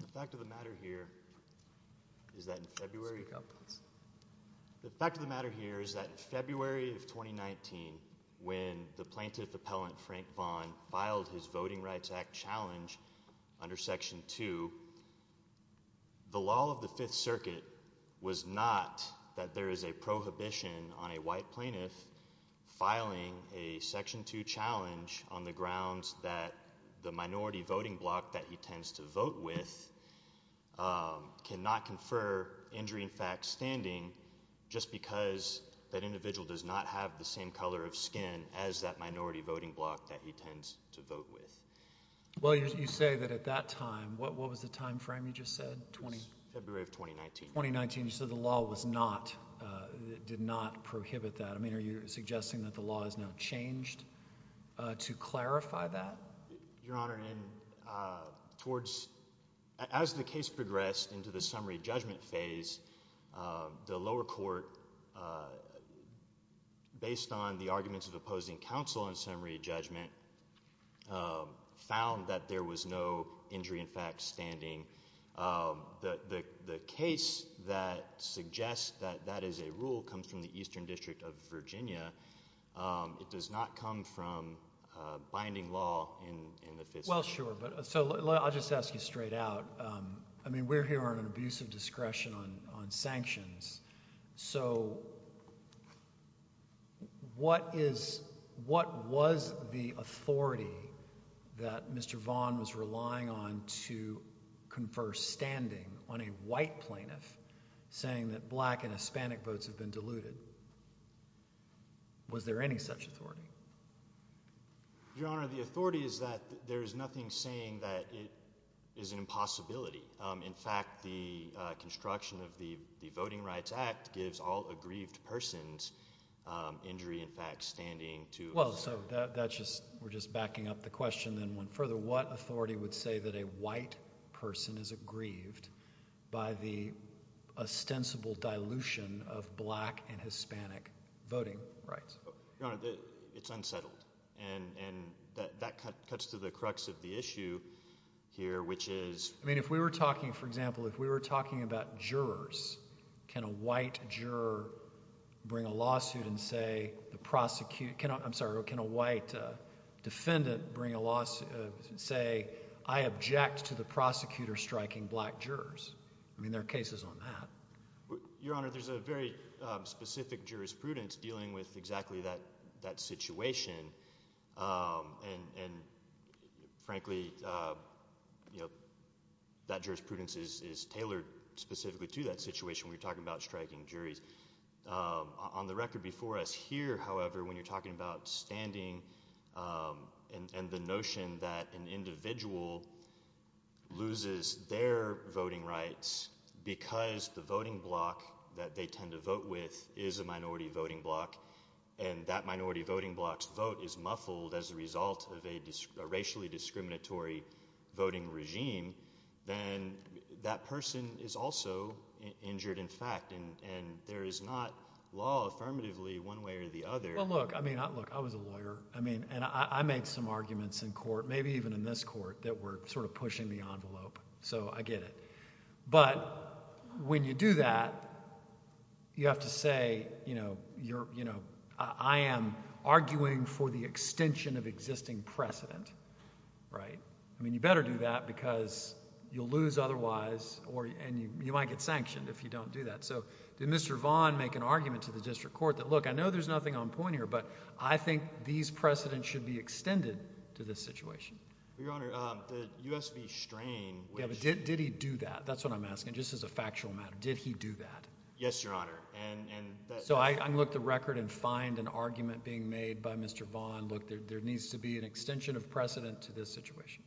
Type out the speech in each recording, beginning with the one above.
The fact of the matter here is that in February of 2019, when the Plaintiff Appellant Frank Vaughan filed his Voting Rights Act challenge under Section 2, the law of the Fifth Circuit was not that there is a prohibition on a white plaintiff filing a Section 2 challenge on the grounds that the minority voting bloc that he tends to vote with cannot confer injury in fact standing just because that individual does not have the same color of skin as that minority voting bloc that he tends to vote with. Well, you say that at that time, what was the time frame you just said? February of 2019. February of 2019. So the law was not, did not prohibit that. I mean, are you suggesting that the law has now changed to clarify that? Your Honor, as the case progressed into the summary judgment phase, the lower court, based on the arguments of opposing counsel in summary judgment, found that there was no injury in The case that suggests that that is a rule comes from the Eastern District of Virginia. It does not come from binding law in the Fifth Circuit. Well, sure. But so I'll just ask you straight out. I mean, we're here on an abuse of discretion on sanctions. So what is, what was the authority that Mr. Vaughn was relying on to confer standing on a white plaintiff saying that black and Hispanic votes have been diluted? Was there any such authority? Your Honor, the authority is that there is nothing saying that it is an impossibility. In fact, the construction of the Voting Rights Act gives all aggrieved persons injury, in fact, standing to... Well, so that's just, we're just backing up the question then one further. What authority would say that a white person is aggrieved by the ostensible dilution of black and Hispanic voting rights? Your Honor, it's unsettled. And that cuts to the crux of the issue here, which is... I mean, if we were talking, for example, if we were talking about jurors, can a white juror bring a lawsuit and say, the prosecutor, I'm sorry, can a white defendant bring a lawsuit and say, I object to the prosecutor striking black jurors? I mean, there are cases on that. Your Honor, there's a very specific jurisprudence dealing with exactly that situation. And frankly, that jurisprudence is tailored specifically to that situation when you're talking about striking juries. On the record before us here, however, when you're talking about standing and the notion that an individual loses their voting rights because the voting bloc that they tend to vote is muffled as a result of a racially discriminatory voting regime, then that person is also injured in fact. And there is not law affirmatively one way or the other. Well, look, I mean, look, I was a lawyer, and I made some arguments in court, maybe even in this court, that were sort of pushing the envelope. So I get it. But when you do that, you have to say, I am arguing for the extension of existing precedent. Right? I mean, you better do that, because you'll lose otherwise, and you might get sanctioned if you don't do that. So did Mr. Vaughn make an argument to the district court that, look, I know there's nothing on point here, but I think these precedents should be extended to this situation? Your Honor, the US v. Strain, which— Yeah, but did he do that? That's what I'm asking, just as a factual matter. Did he do that? Yes, Your Honor. And— So I looked the record and find an argument being made by Mr. Vaughn, look, there needs to be an extension of precedent to this situation.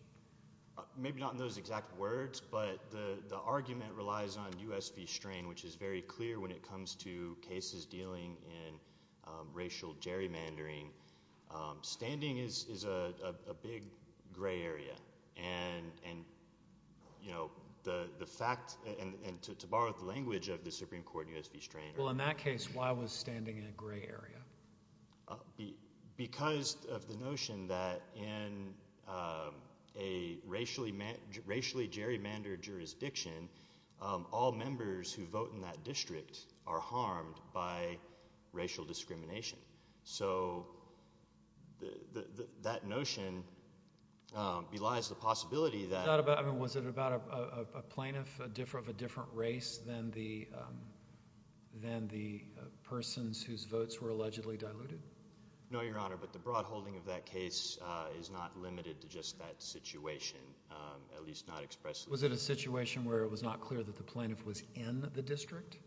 Maybe not in those exact words, but the argument relies on US v. Strain, which is very clear when it comes to cases dealing in racial gerrymandering. Standing is a big gray area, and, you know, the fact—and to borrow the language of the Supreme Court and US v. Strain— Well, in that case, why was standing in a gray area? Because of the notion that in a racially gerrymandered jurisdiction, all members who vote in that district are harmed by racial discrimination. So that notion belies the possibility that— Was it about a plaintiff of a different race than the persons whose votes were allegedly diluted? No, Your Honor, but the broad holding of that case is not limited to just that situation, at least not expressly. Was it a situation where it was not clear that the plaintiff was in the district?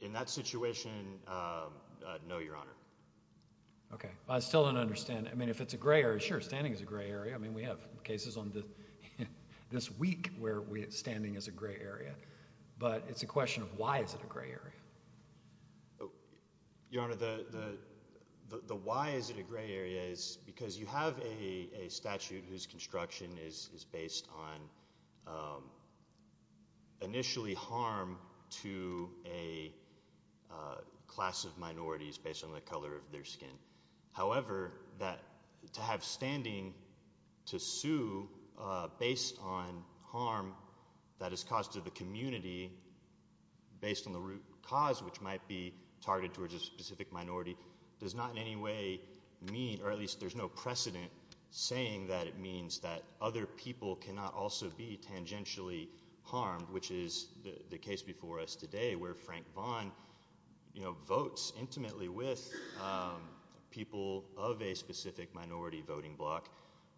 In that situation, no, Your Honor. Okay. I still don't understand. I mean, if it's a gray area, sure, standing is a gray area. I mean, we have cases on this week where standing is a gray area, but it's a question of why is it a gray area. Your Honor, the why is it a gray area is because you have a statute whose construction is based on initially harm to a class of minorities based on the color of their skin. However, to have standing to sue based on harm that is caused to the community based on the root cause, which might be targeted towards a specific minority, does not in any or at least there's no precedent saying that it means that other people cannot also be tangentially harmed, which is the case before us today where Frank Vaughn, you know, votes intimately with people of a specific minority voting bloc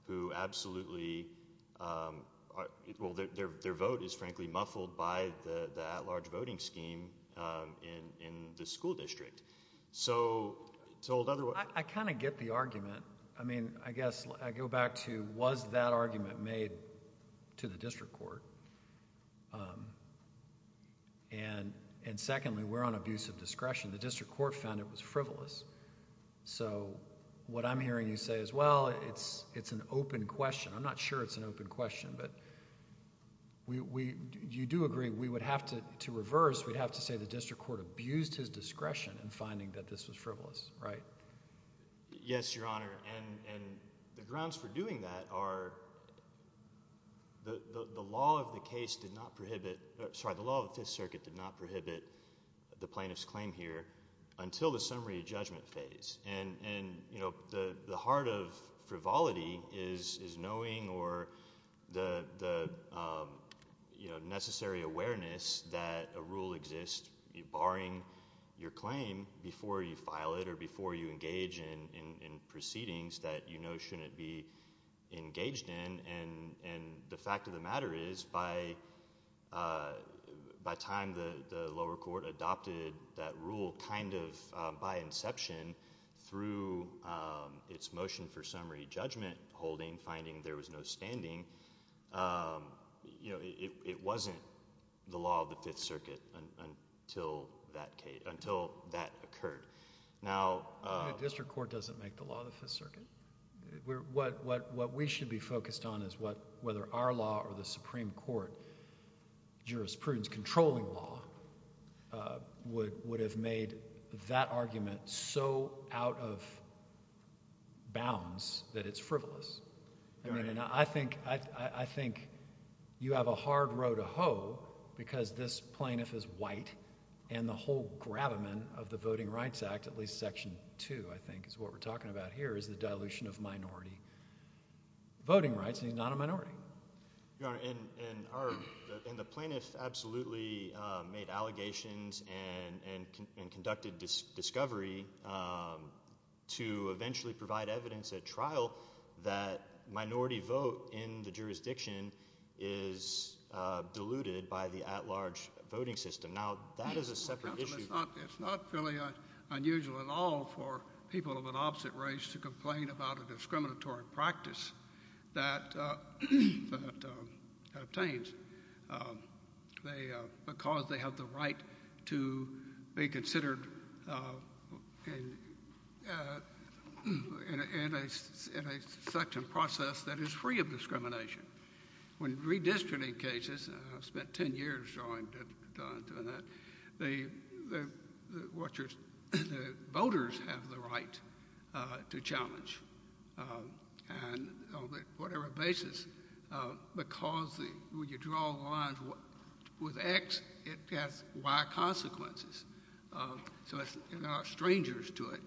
who absolutely, well, their vote is frankly muffled by the at-large voting scheme in the school district. So, to hold other... I kind of get the argument. I mean, I guess I go back to was that argument made to the district court? And secondly, we're on abuse of discretion. The district court found it was frivolous. So, what I'm hearing you say is, well, it's an open question. I'm not sure it's an open question, but you do agree we would have to reverse. We'd have to say the district court abused his discretion in finding that this was frivolous, right? Yes, Your Honor, and the grounds for doing that are the law of the case did not prohibit, sorry, the law of the Fifth Circuit did not prohibit the plaintiff's claim here until the summary judgment phase. And, you know, the heart of frivolity is knowing or the necessary awareness that a rule exists barring your claim before you file it or before you engage in proceedings that you know shouldn't be engaged in. And the fact of the matter is, by time the lower court adopted that rule kind of by inception through its motion for summary judgment holding, finding there was no standing, you know, it wasn't the law of the Fifth Circuit until that occurred. The district court doesn't make the law of the Fifth Circuit. What we should be focused on is whether our law or the Supreme Court jurisprudence controlling law would have made that argument so out of bounds that it's frivolous. I mean, and I think you have a hard row to hoe because this plaintiff is white and the whole gravamen of the Voting Rights Act, at least Section 2 I think is what we're talking about here is the dilution of minority voting rights and he's not a minority. Your Honor, and the plaintiff absolutely made allegations and conducted discovery to eventually provide evidence at trial that minority vote in the jurisdiction is diluted by the at-large voting system. Now, that is a separate issue. It's not really unusual at all for people of an opposite race to complain about a discriminatory practice that obtains because they have the right to be considered in a section process When redistricting cases, I've spent 10 years doing that, the voters have the right to challenge on whatever basis because when you draw the lines with X, it has Y consequences. So there are strangers to it.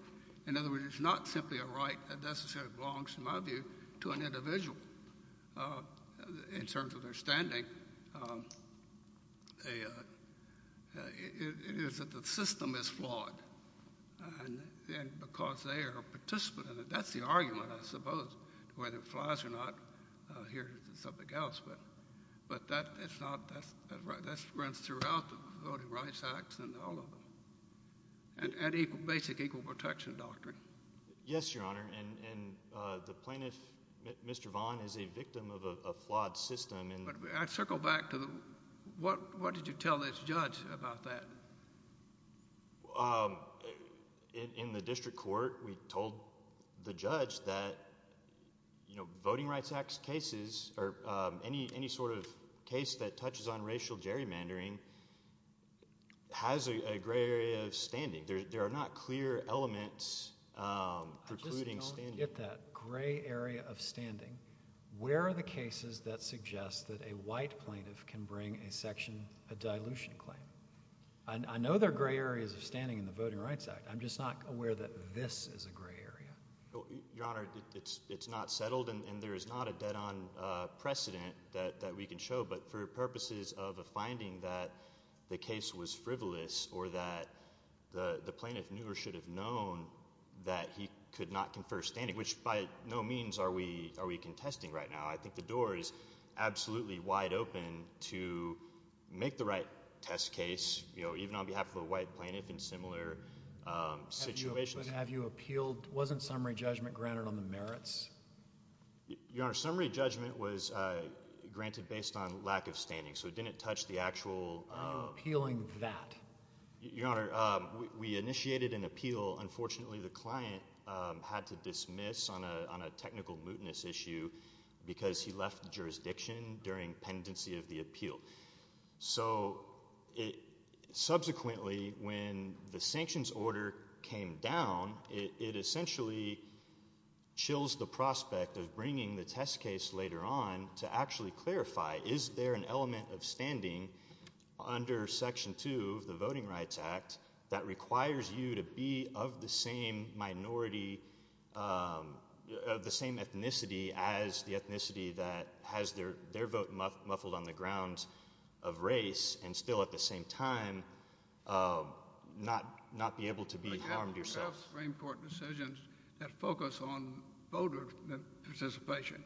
In other words, it's not simply a right that necessarily belongs, in my view, to an individual in terms of their standing. It is that the system is flawed and because they are a participant in it, that's the argument I suppose, whether it flies or not, here's something else, but that runs throughout the Voting Rights Act and all of them. And basic equal protection doctrine. Yes, Your Honor, and the plaintiff, Mr. Vaughn, is a victim of a flawed system. I circle back to what did you tell this judge about that? In the district court, we told the judge that Voting Rights Act cases or any sort of case that touches on racial gerrymandering has a gray area of standing. There are not clear elements precluding standing. I just don't get that gray area of standing. Where are the cases that suggest that a white plaintiff can bring a section, a dilution claim? I know there are gray areas of standing in the Voting Rights Act. I'm just not aware that this is a gray area. Your Honor, it's not settled and there is not a dead-on precedent that we can show, but for purposes of a finding that the case was frivolous or that the plaintiff knew or should have known that he could not confer standing, which by no means are we contesting right now. I think the door is absolutely wide open to make the right test case, even on behalf of a white plaintiff in similar situations. But wasn't summary judgment granted on the merits? Your Honor, summary judgment was granted based on lack of standing, so it didn't touch the actual... Appealing that. Your Honor, we initiated an appeal. Unfortunately, the client had to dismiss on a technical mootness issue because he left the jurisdiction during pendency of the appeal. So subsequently, when the sanctions order came down, it essentially chills the prospect of bringing the test case later on to actually clarify, is there an element of standing under Section 2 of the Voting Rights Act that requires you to be of the same minority, of the same ethnicity as the ethnicity that has their vote muffled on the grounds of race and still at the same time not be able to be harmed yourself? But you have enough Supreme Court decisions that focus on voter participation,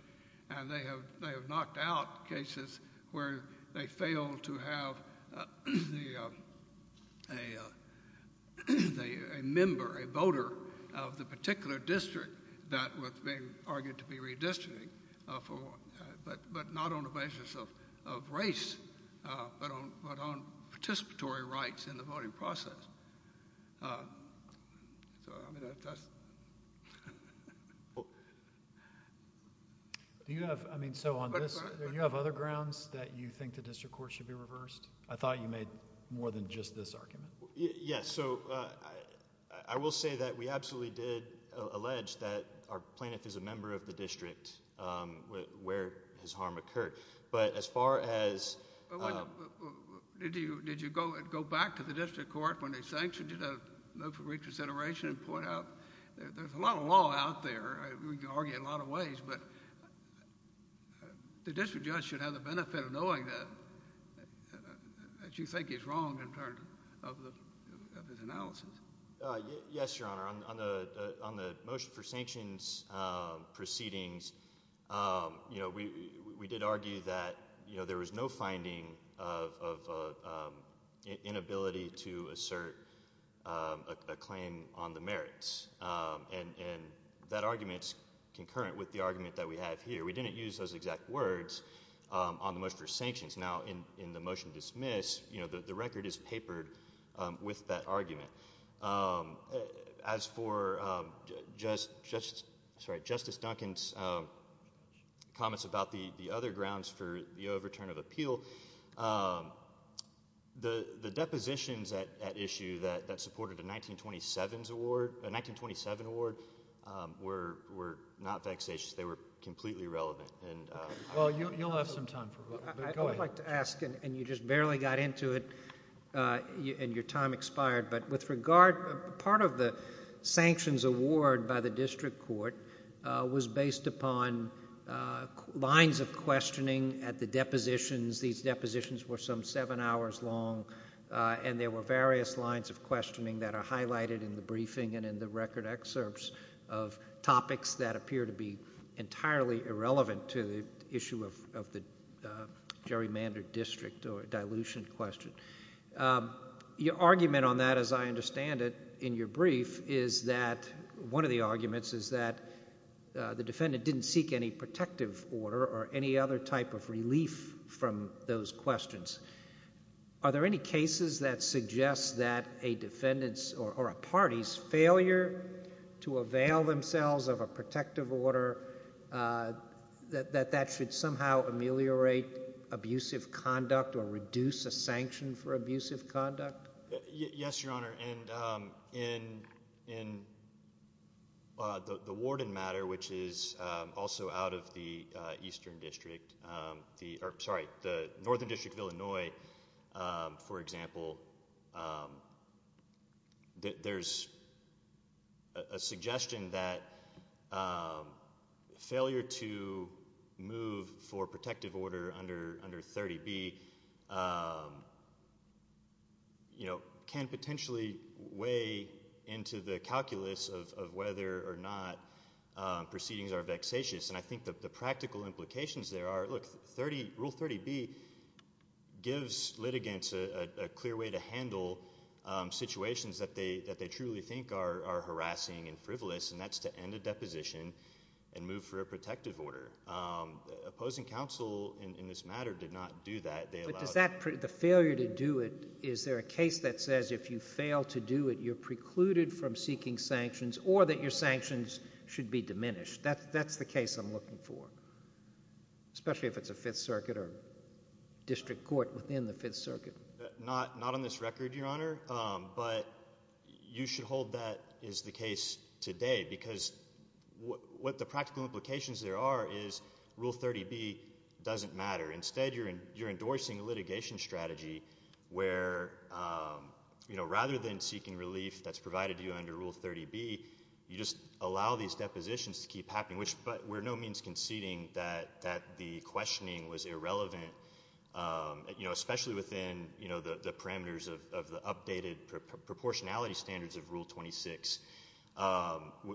and they have knocked out cases where they fail to have a member, a voter of the particular district that was being argued to be redistricting, but not on the basis of race, but on participatory rights in the voting process. So, I mean, that's... Do you have... I mean, so on this, do you have other grounds that you think the district court should be reversed? I thought you made more than just this argument. Yes. So I will say that we absolutely did allege that our plaintiff is a member of the district where his harm occurred. But as far as... Did you go back to the district court when they sanctioned you to look for reconsideration and point out, there's a lot of law out there. We can argue in a lot of ways, but the district judge should have the benefit of knowing that what you think is wrong in terms of his analysis. Yes, Your Honor. On the motion for sanctions proceedings, we did argue that there was no finding of inability to assert a claim on the merits. And that argument is concurrent with the argument that we have here. We didn't use those exact words on the motion for sanctions. Now, in the motion to dismiss, the record is papered with that argument. As for Justice Duncan's comments about the other grounds for the overturn of appeal, the depositions at issue that supported a 1927 award were not vexatious. They were completely irrelevant. Well, you'll have some time. I'd like to ask, and you just barely got into it and your time expired, but with regard, part of the sanctions award by the district court was based upon lines of questioning at the depositions. These depositions were some seven hours long, and there were various lines of questioning that are highlighted in the briefing and in the record excerpts of topics that appear to be entirely irrelevant to the issue of the gerrymandered district or dilution question. Your argument on that, as I understand it, in your brief is that one of the arguments is that the defendant didn't seek any protective order or any other type of relief from those questions. Are there any cases that suggest that a defendant's or a party's failure to avail themselves of a protective order, that that should somehow ameliorate abusive conduct or reduce a sanction for abusive conduct? Yes, Your Honor. And in the warden matter, which is also out of the northern district of Illinois, for example, there's a suggestion that failure to move for protective order under 30B can potentially weigh into the calculus of whether or not proceedings are vexatious. And I think the practical implications there are, look, Rule 30B gives litigants a clear way to handle situations that they truly think are harassing and frivolous, and that's to end a deposition and move for a protective order. Opposing counsel in this matter did not do that. But does that—the failure to do it, is there a case that says if you fail to do it, you're precluded from seeking sanctions or that your sanctions should be diminished? That's the case I'm looking for, especially if it's a Fifth Circuit or district court within the Fifth Circuit. Not on this record, Your Honor. But you should hold that is the case today because what the practical implications there are is Rule 30B doesn't matter. Instead, you're endorsing a litigation strategy where rather than seeking relief that's provided to you under Rule 30B, you just allow these depositions to keep happening, but we're no means conceding that the questioning was irrelevant, especially within the parameters of the updated proportionality standards of Rule 26,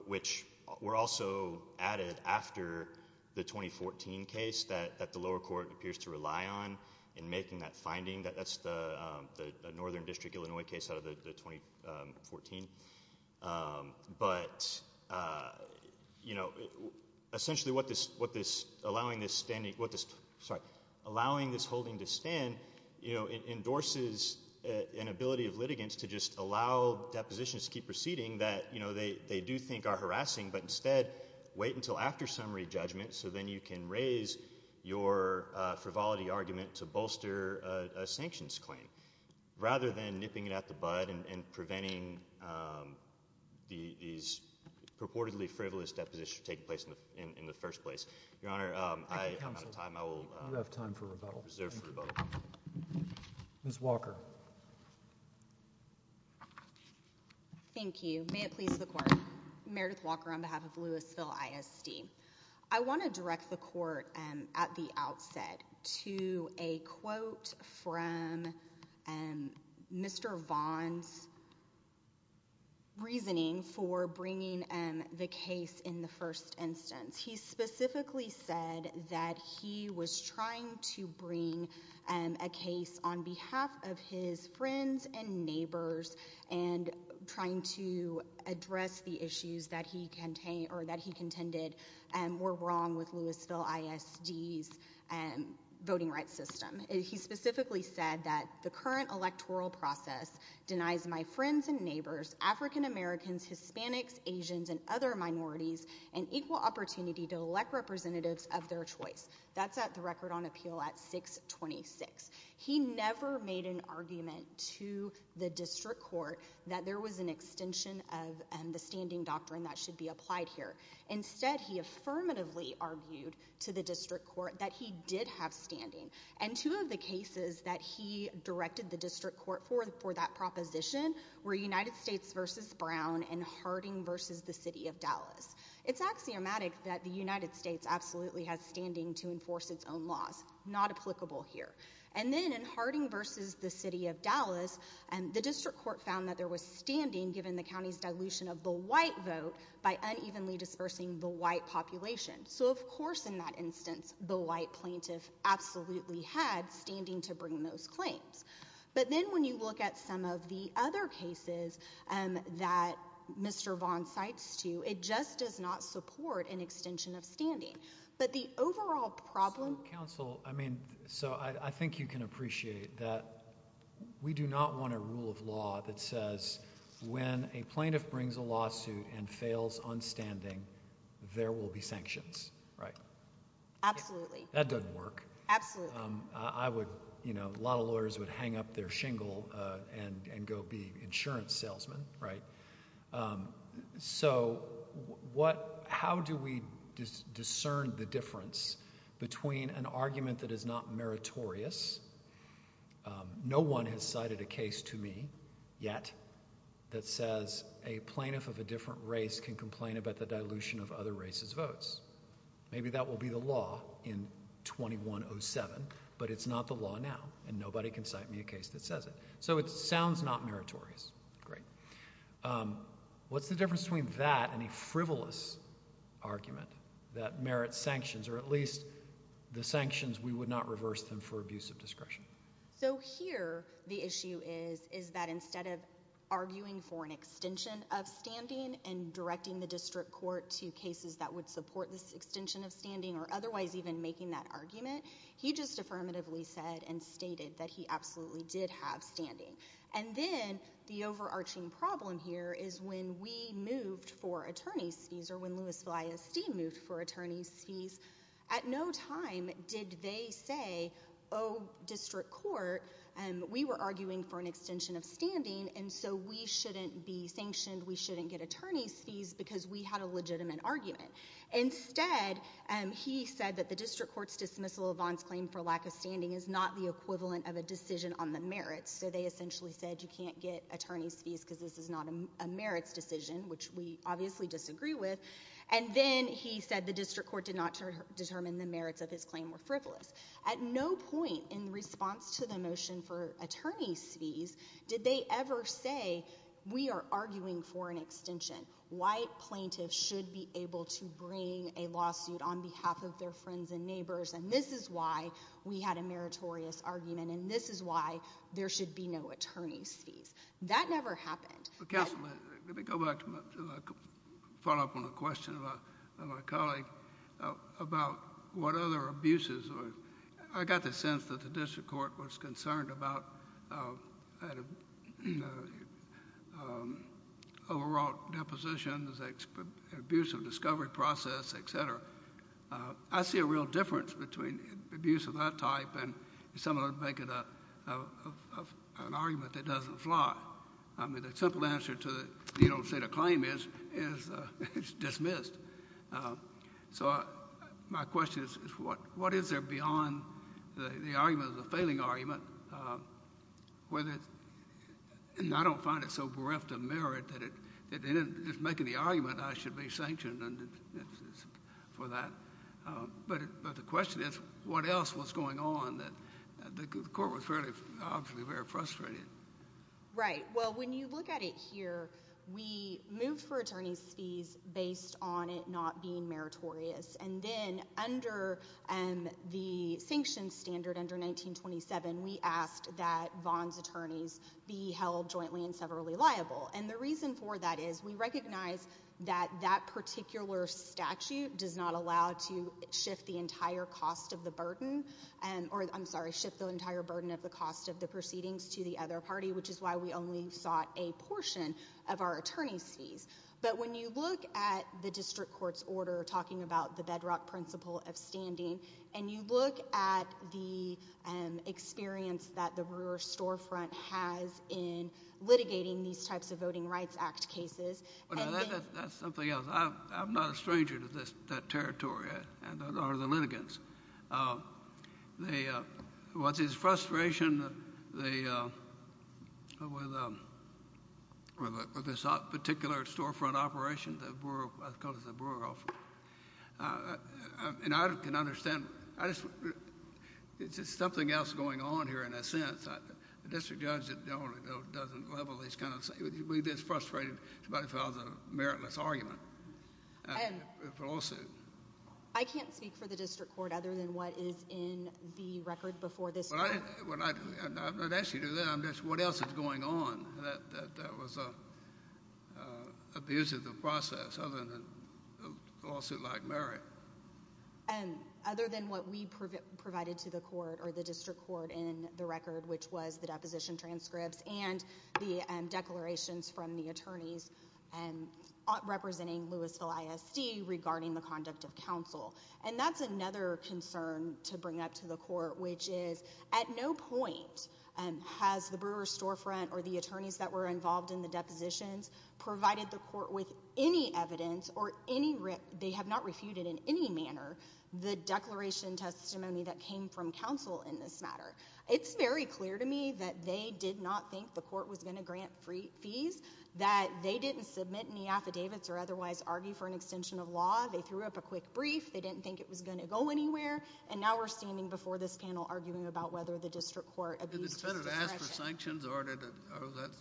which were also added after the 2014 case that the lower court appears to rely on in making that finding. That's the Northern District, Illinois case out of the 2014. But essentially what this—allowing this holding to stand endorses an ability of litigants to just allow depositions to keep proceeding that they do think are harassing, but instead wait until after summary judgment so then you can raise your frivolity argument to bolster a sanctions claim rather than nipping it at the bud and preventing these purportedly frivolous depositions from taking place in the first place. Your Honor, I'm out of time. I will reserve for rebuttal. Ms. Walker. Thank you. May it please the Court. Meredith Walker on behalf of Louisville ISD. I want to direct the Court at the outset to a quote from Mr. Vaughn's reasoning for bringing the case in the first instance. He specifically said that he was trying to bring a case on behalf of his friends and neighbors and trying to address the issues that he contended were wrong with Louisville ISD's voting rights system. He specifically said that the current electoral process denies my friends and neighbors, African Americans, Hispanics, Asians, and other minorities an equal opportunity to elect representatives of their choice. That's at the record on appeal at 626. He never made an argument to the District Court that there was an extension of the standing doctrine that should be applied here. Instead, he affirmatively argued to the District Court that he did have standing. And two of the cases that he directed the District Court for that proposition were United States v. Brown and Harding v. the City of Dallas. It's axiomatic that the United States absolutely has standing to enforce its own laws. Not applicable here. And then in Harding v. the City of Dallas, the District Court found that there was standing given the county's dilution of the white vote by unevenly dispersing the white population. So, of course, in that instance, the white plaintiff absolutely had standing to bring those claims. But then when you look at some of the other cases that Mr. Vaughn cites to you, it just does not support an extension of standing. But the overall problem... So, counsel, I mean, so I think you can appreciate that we do not want a rule of law that says when a plaintiff brings a lawsuit and fails on standing, there will be sanctions, right? Absolutely. That doesn't work. Absolutely. I would, you know, a lot of lawyers would hang up their shingle and go be insurance salesmen, right? So how do we discern the difference between an argument that is not meritorious? No one has cited a case to me yet that says a plaintiff of a different race can complain about the dilution of other races' votes. Maybe that will be the law in 2107, but it's not the law now, and nobody can cite me a case that says it. So it sounds not meritorious. Great. What's the difference between that and a frivolous argument that merits sanctions, or at least the sanctions we would not reverse them for abuse of discretion? So here the issue is, is that instead of arguing for an extension of standing and directing the district court to cases that would support this extension of standing or otherwise even making that argument, he just affirmatively said and stated that he absolutely did have standing. And then the overarching problem here is when we moved for attorney's fees or when Louis VillaySD moved for attorney's fees, at no time did they say, oh, district court, we were arguing for an extension of standing, and so we shouldn't be sanctioned, we shouldn't get attorney's fees because we had a legitimate argument. Instead, he said that the district court's dismissal of Vaughn's claim for lack of standing is not the equivalent of a decision on the merits, so they essentially said you can't get attorney's fees because this is not a merits decision, which we obviously disagree with. And then he said the district court did not determine the merits of his claim were frivolous. At no point in response to the motion for attorney's fees did they ever say we are arguing for an extension. White plaintiffs should be able to bring a lawsuit on behalf of their friends and neighbors, and this is why we had a meritorious argument, and this is why there should be no attorney's fees. That never happened. Counsel, let me go back to my follow-up on a question of my colleague about what other abuses. I got the sense that the district court was concerned about overwrought depositions, abuse of discovery process, et cetera. I see a real difference between abuse of that type and someone making an argument that doesn't fly. I mean, the simple answer to say the claim is it's dismissed. So my question is what is there beyond the argument of the failing argument? And I don't find it so bereft of merit that in making the argument I should be sanctioned for that. But the question is what else was going on that the court was obviously very frustrated. Right. Well, when you look at it here, we moved for attorney's fees based on it not being meritorious. And then under the sanctions standard under 1927, we asked that Vaughn's attorneys be held jointly and severally liable. And the reason for that is we recognize that that particular statute does not allow to shift the entire cost of the burden or, I'm sorry, shift the entire burden of the cost of the proceedings to the other party, which is why we only sought a portion of our attorney's fees. But when you look at the district court's order talking about the bedrock principle of standing and you look at the experience that the Brewer storefront has in litigating these types of Voting Rights Act cases. That's something else. I'm not a stranger to that territory or the litigants. What's his frustration with this particular storefront operation that the Brewer offered? And I can understand. It's just something else going on here in a sense. The district judge doesn't level these kinds of things. You'd be just frustrated if somebody filed a meritless argument, a lawsuit. I can't speak for the district court other than what is in the record before this court. I'm not asking you to do that. I'm just, what else is going on that was abusive of process other than a lawsuit like merit? Other than what we provided to the court or the district court in the record, which was the deposition transcripts and the declarations from the attorneys representing Louisville ISD regarding the conduct of counsel. And that's another concern to bring up to the court, which is at no point has the Brewer storefront or the attorneys that were involved in the depositions provided the court with any evidence or they have not refuted in any manner the declaration testimony that came from counsel in this matter. It's very clear to me that they did not think the court was going to grant fees, that they didn't submit any affidavits or otherwise argue for an extension of law. They threw up a quick brief. They didn't think it was going to go anywhere. And now we're standing before this panel arguing about whether the district court abused his discretion. Did the defendant ask for sanctions or was that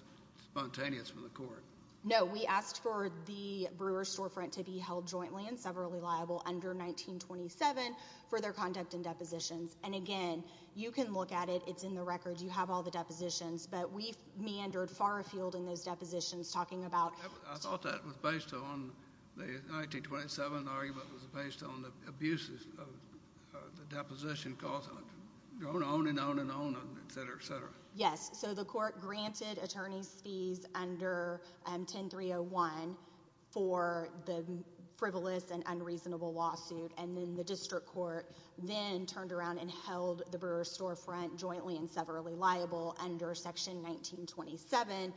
spontaneous from the court? No, we asked for the Brewer storefront to be held jointly and severally liable under 1927 for their conduct in depositions. And, again, you can look at it. It's in the records. You have all the depositions. But we meandered far afield in those depositions talking about. I thought that was based on the 1927 argument was based on the abuses of the deposition costs, going on and on and on, et cetera, et cetera. Yes. So the court granted attorneys fees under 10301 for the frivolous and unreasonable lawsuit. And then the district court then turned around and held the Brewer storefront jointly and severally liable under Section 1927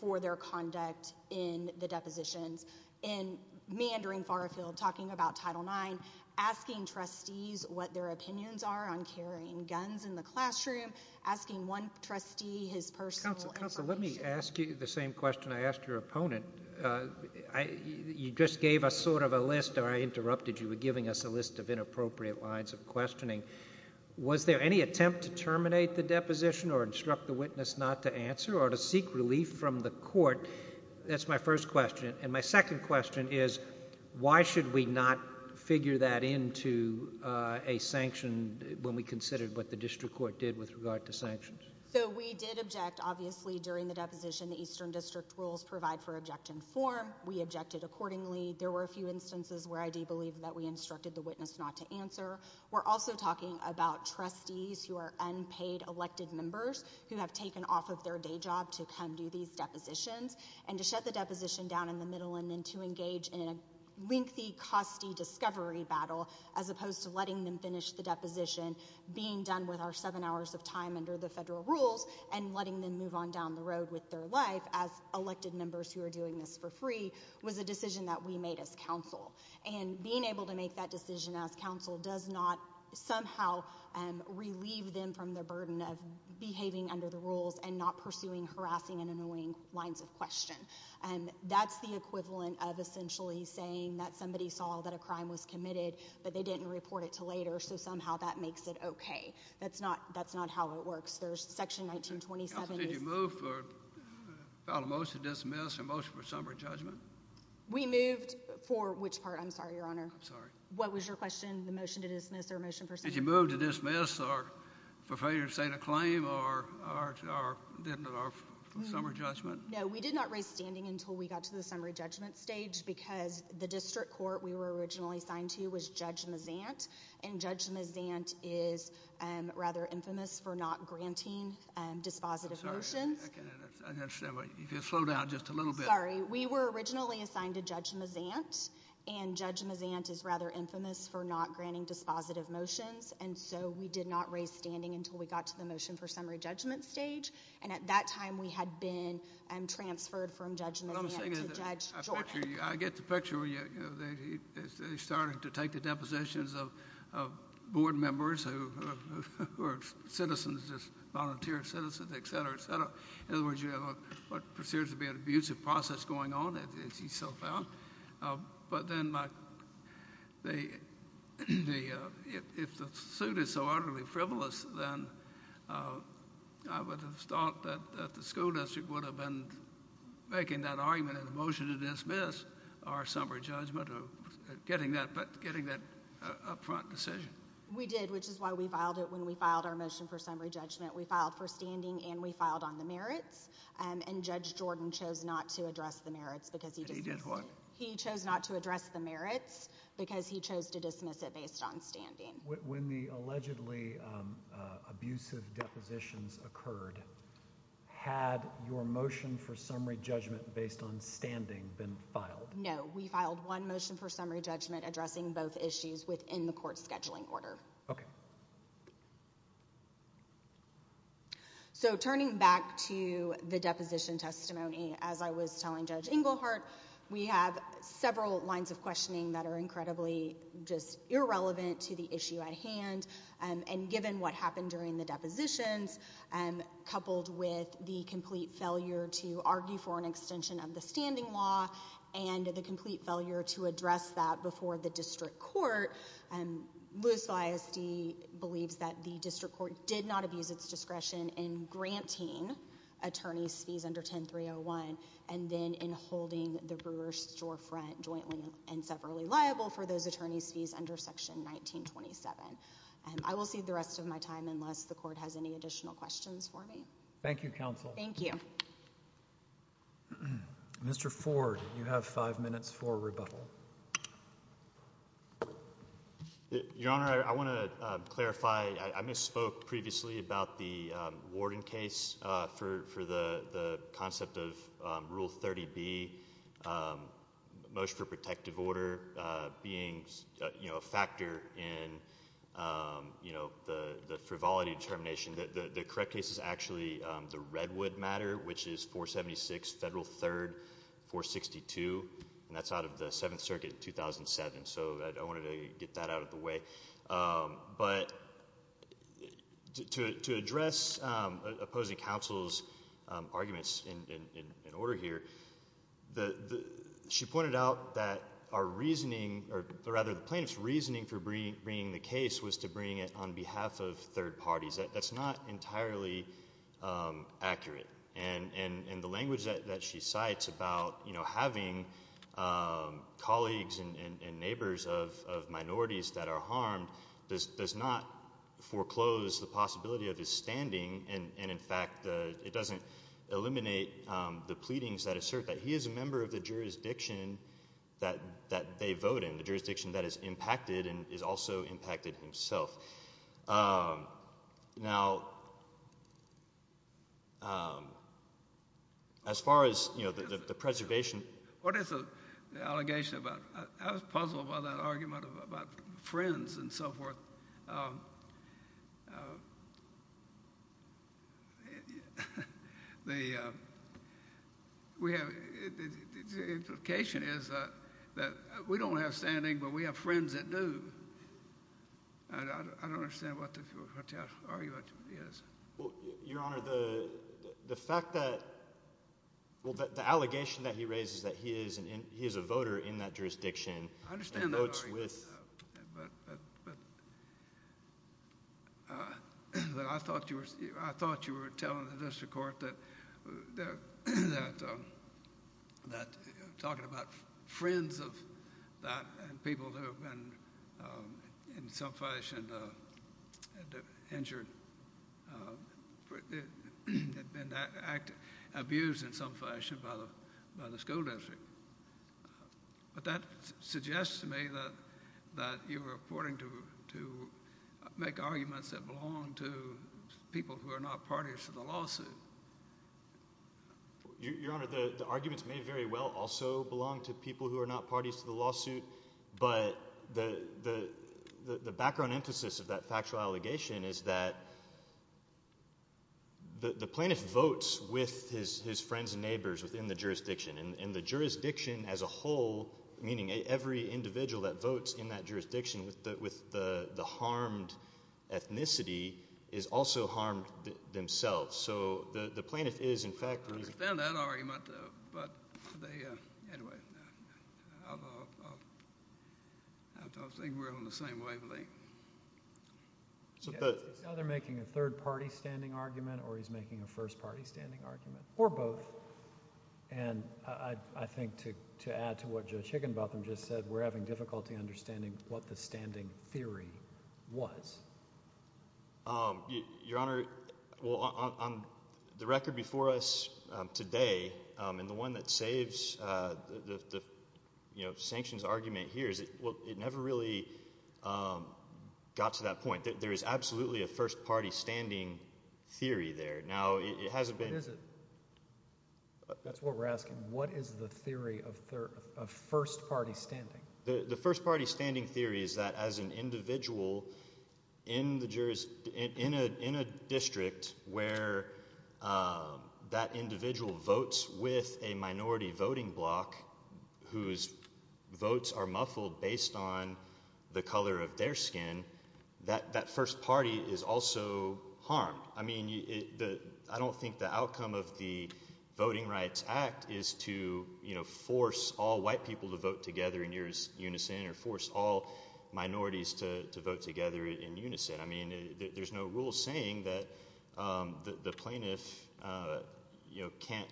for their conduct in the depositions. And meandering far afield talking about Title IX, asking trustees what their opinions are on carrying guns in the classroom, asking one trustee his personal— Counsel, counsel, let me ask you the same question I asked your opponent. You just gave us sort of a list, or I interrupted you. You were giving us a list of inappropriate lines of questioning. Was there any attempt to terminate the deposition or instruct the witness not to answer or to seek relief from the court? That's my first question. And my second question is why should we not figure that into a sanction when we considered what the district court did with regard to sanctions? So we did object, obviously, during the deposition. The Eastern District rules provide for objection form. We objected accordingly. There were a few instances where I do believe that we instructed the witness not to answer. We're also talking about trustees who are unpaid elected members who have taken off of their day job to come do these depositions and to shut the deposition down in the middle and then to engage in a lengthy, costly discovery battle as opposed to letting them finish the deposition, being done with our seven hours of time under the federal rules and letting them move on down the road with their life as elected members who are doing this for free was a decision that we made as counsel. And being able to make that decision as counsel does not somehow relieve them from the burden of behaving under the rules and not pursuing harassing and annoying lines of question. And that's the equivalent of essentially saying that somebody saw that a crime was committed, but they didn't report it to later, so somehow that makes it okay. That's not how it works. There's Section 1927. Counsel, did you move for a motion to dismiss or a motion for summary judgment? We moved for which part? I'm sorry, Your Honor. I'm sorry. What was your question, the motion to dismiss or a motion for summary judgment? Did you move to dismiss or for failure to state a claim or for summary judgment? No, we did not raise standing until we got to the summary judgment stage because the district court we were originally assigned to was Judge Mazant, and Judge Mazant is rather infamous for not granting dispositive motions. I'm sorry. I don't understand. If you'll slow down just a little bit. Sorry. We were originally assigned to Judge Mazant, and Judge Mazant is rather infamous for not granting dispositive motions, and so we did not raise standing until we got to the motion for summary judgment stage. And at that time we had been transferred from Judge Mazant to Judge Jordan. I get the picture where they're starting to take the depositions of board members who are citizens, just volunteer citizens, et cetera, et cetera. In other words, you have what appears to be an abusive process going on, as you so found. But then if the suit is so utterly frivolous, then I would have thought that the school district would have been making that argument in the motion to dismiss our summary judgment or getting that upfront decision. We did, which is why we filed it when we filed our motion for summary judgment. We filed for standing and we filed on the merits, and Judge Jordan chose not to address the merits because he dismissed it. He chose not to address the merits because he chose to dismiss it based on standing. When the allegedly abusive depositions occurred, had your motion for summary judgment based on standing been filed? No. We filed one motion for summary judgment addressing both issues within the court's scheduling order. Okay. So turning back to the deposition testimony, as I was telling Judge Engelhardt, we have several lines of questioning that are incredibly just irrelevant to the issue at hand. And given what happened during the depositions, coupled with the complete failure to argue for an extension of the standing law and the complete failure to address that before the district court, Lewis ISD believes that the district court did not abuse its discretion in granting attorneys' fees under 10301 and then in holding the Brewer-Storefront jointly and separately liable for those attorneys' fees under Section 1927. I will cede the rest of my time unless the court has any additional questions for me. Thank you, counsel. Thank you. Mr. Ford, you have five minutes for rebuttal. Your Honor, I want to clarify. I misspoke previously about the Warden case for the concept of Rule 30B, Motion for Protective Order, being a factor in the frivolity determination. The correct case is actually the Redwood matter, which is 476 Federal 3rd 462, and that's out of the Seventh Circuit 2007. So I wanted to get that out of the way. But to address opposing counsel's arguments in order here, she pointed out that the plaintiff's reasoning for bringing the case was to bring it on behalf of third parties. That's not entirely accurate. And the language that she cites about having colleagues and neighbors of minorities that are harmed does not foreclose the possibility of his standing. And, in fact, it doesn't eliminate the pleadings that assert that he is a member of the jurisdiction that they vote in, the jurisdiction that has impacted and has also impacted himself. Now, as far as the preservation— What is the allegation about—I was puzzled by that argument about friends and so forth. The implication is that we don't have standing, but we have friends that do. I don't understand what the argument is. Your Honor, the fact that—well, the allegation that he raises that he is a voter in that jurisdiction and votes with— I understand that argument, but I thought you were telling the district court that talking about friends of that and people who have been, in some fashion, injured, have been abused in some fashion by the school district. But that suggests to me that you were reporting to make arguments that belong to people who are not parties to the lawsuit. Your Honor, the arguments may very well also belong to people who are not parties to the lawsuit. But the background emphasis of that factual allegation is that the plaintiff votes with his friends and neighbors within the jurisdiction. And the jurisdiction as a whole, meaning every individual that votes in that jurisdiction with the harmed ethnicity, is also harmed themselves. So the plaintiff is, in fact— I understand that argument, but they—anyway, I don't think we're on the same wavelength. Is he either making a third-party standing argument or he's making a first-party standing argument, or both? And I think to add to what Judge Higginbotham just said, we're having difficulty understanding what the standing theory was. Your Honor, on the record before us today, and the one that saves the sanctions argument here is it never really got to that point. There is absolutely a first-party standing theory there. Now, it hasn't been— What is it? That's what we're asking. What is the theory of first-party standing? The first-party standing theory is that as an individual in a district where that individual votes with a minority voting bloc whose votes are muffled based on the color of their skin, that first party is also harmed. I don't think the outcome of the Voting Rights Act is to force all white people to vote together in unison or force all minorities to vote together in unison. There's no rule saying that the plaintiff can't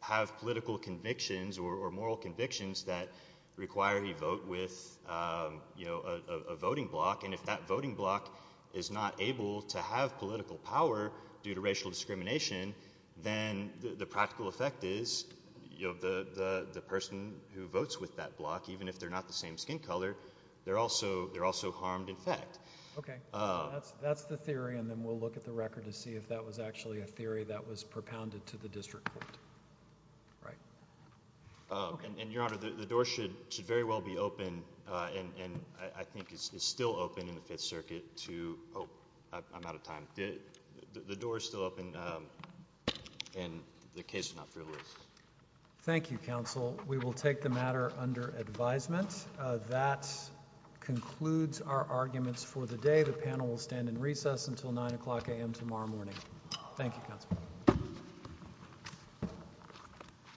have political convictions or moral convictions that require he vote with a voting bloc. And if that voting bloc is not able to have political power due to racial discrimination, then the practical effect is the person who votes with that bloc, even if they're not the same skin color, they're also harmed in fact. Okay. That's the theory, and then we'll look at the record to see if that was actually a theory that was propounded to the district court. Right. And, Your Honor, the door should very well be open, and I think it's still open in the Fifth Circuit to—oh, I'm out of time. The door is still open, and the case is not frivolous. Thank you, counsel. We will take the matter under advisement. That concludes our arguments for the day. The panel will stand in recess until 9 o'clock a.m. tomorrow morning. Thank you, counsel.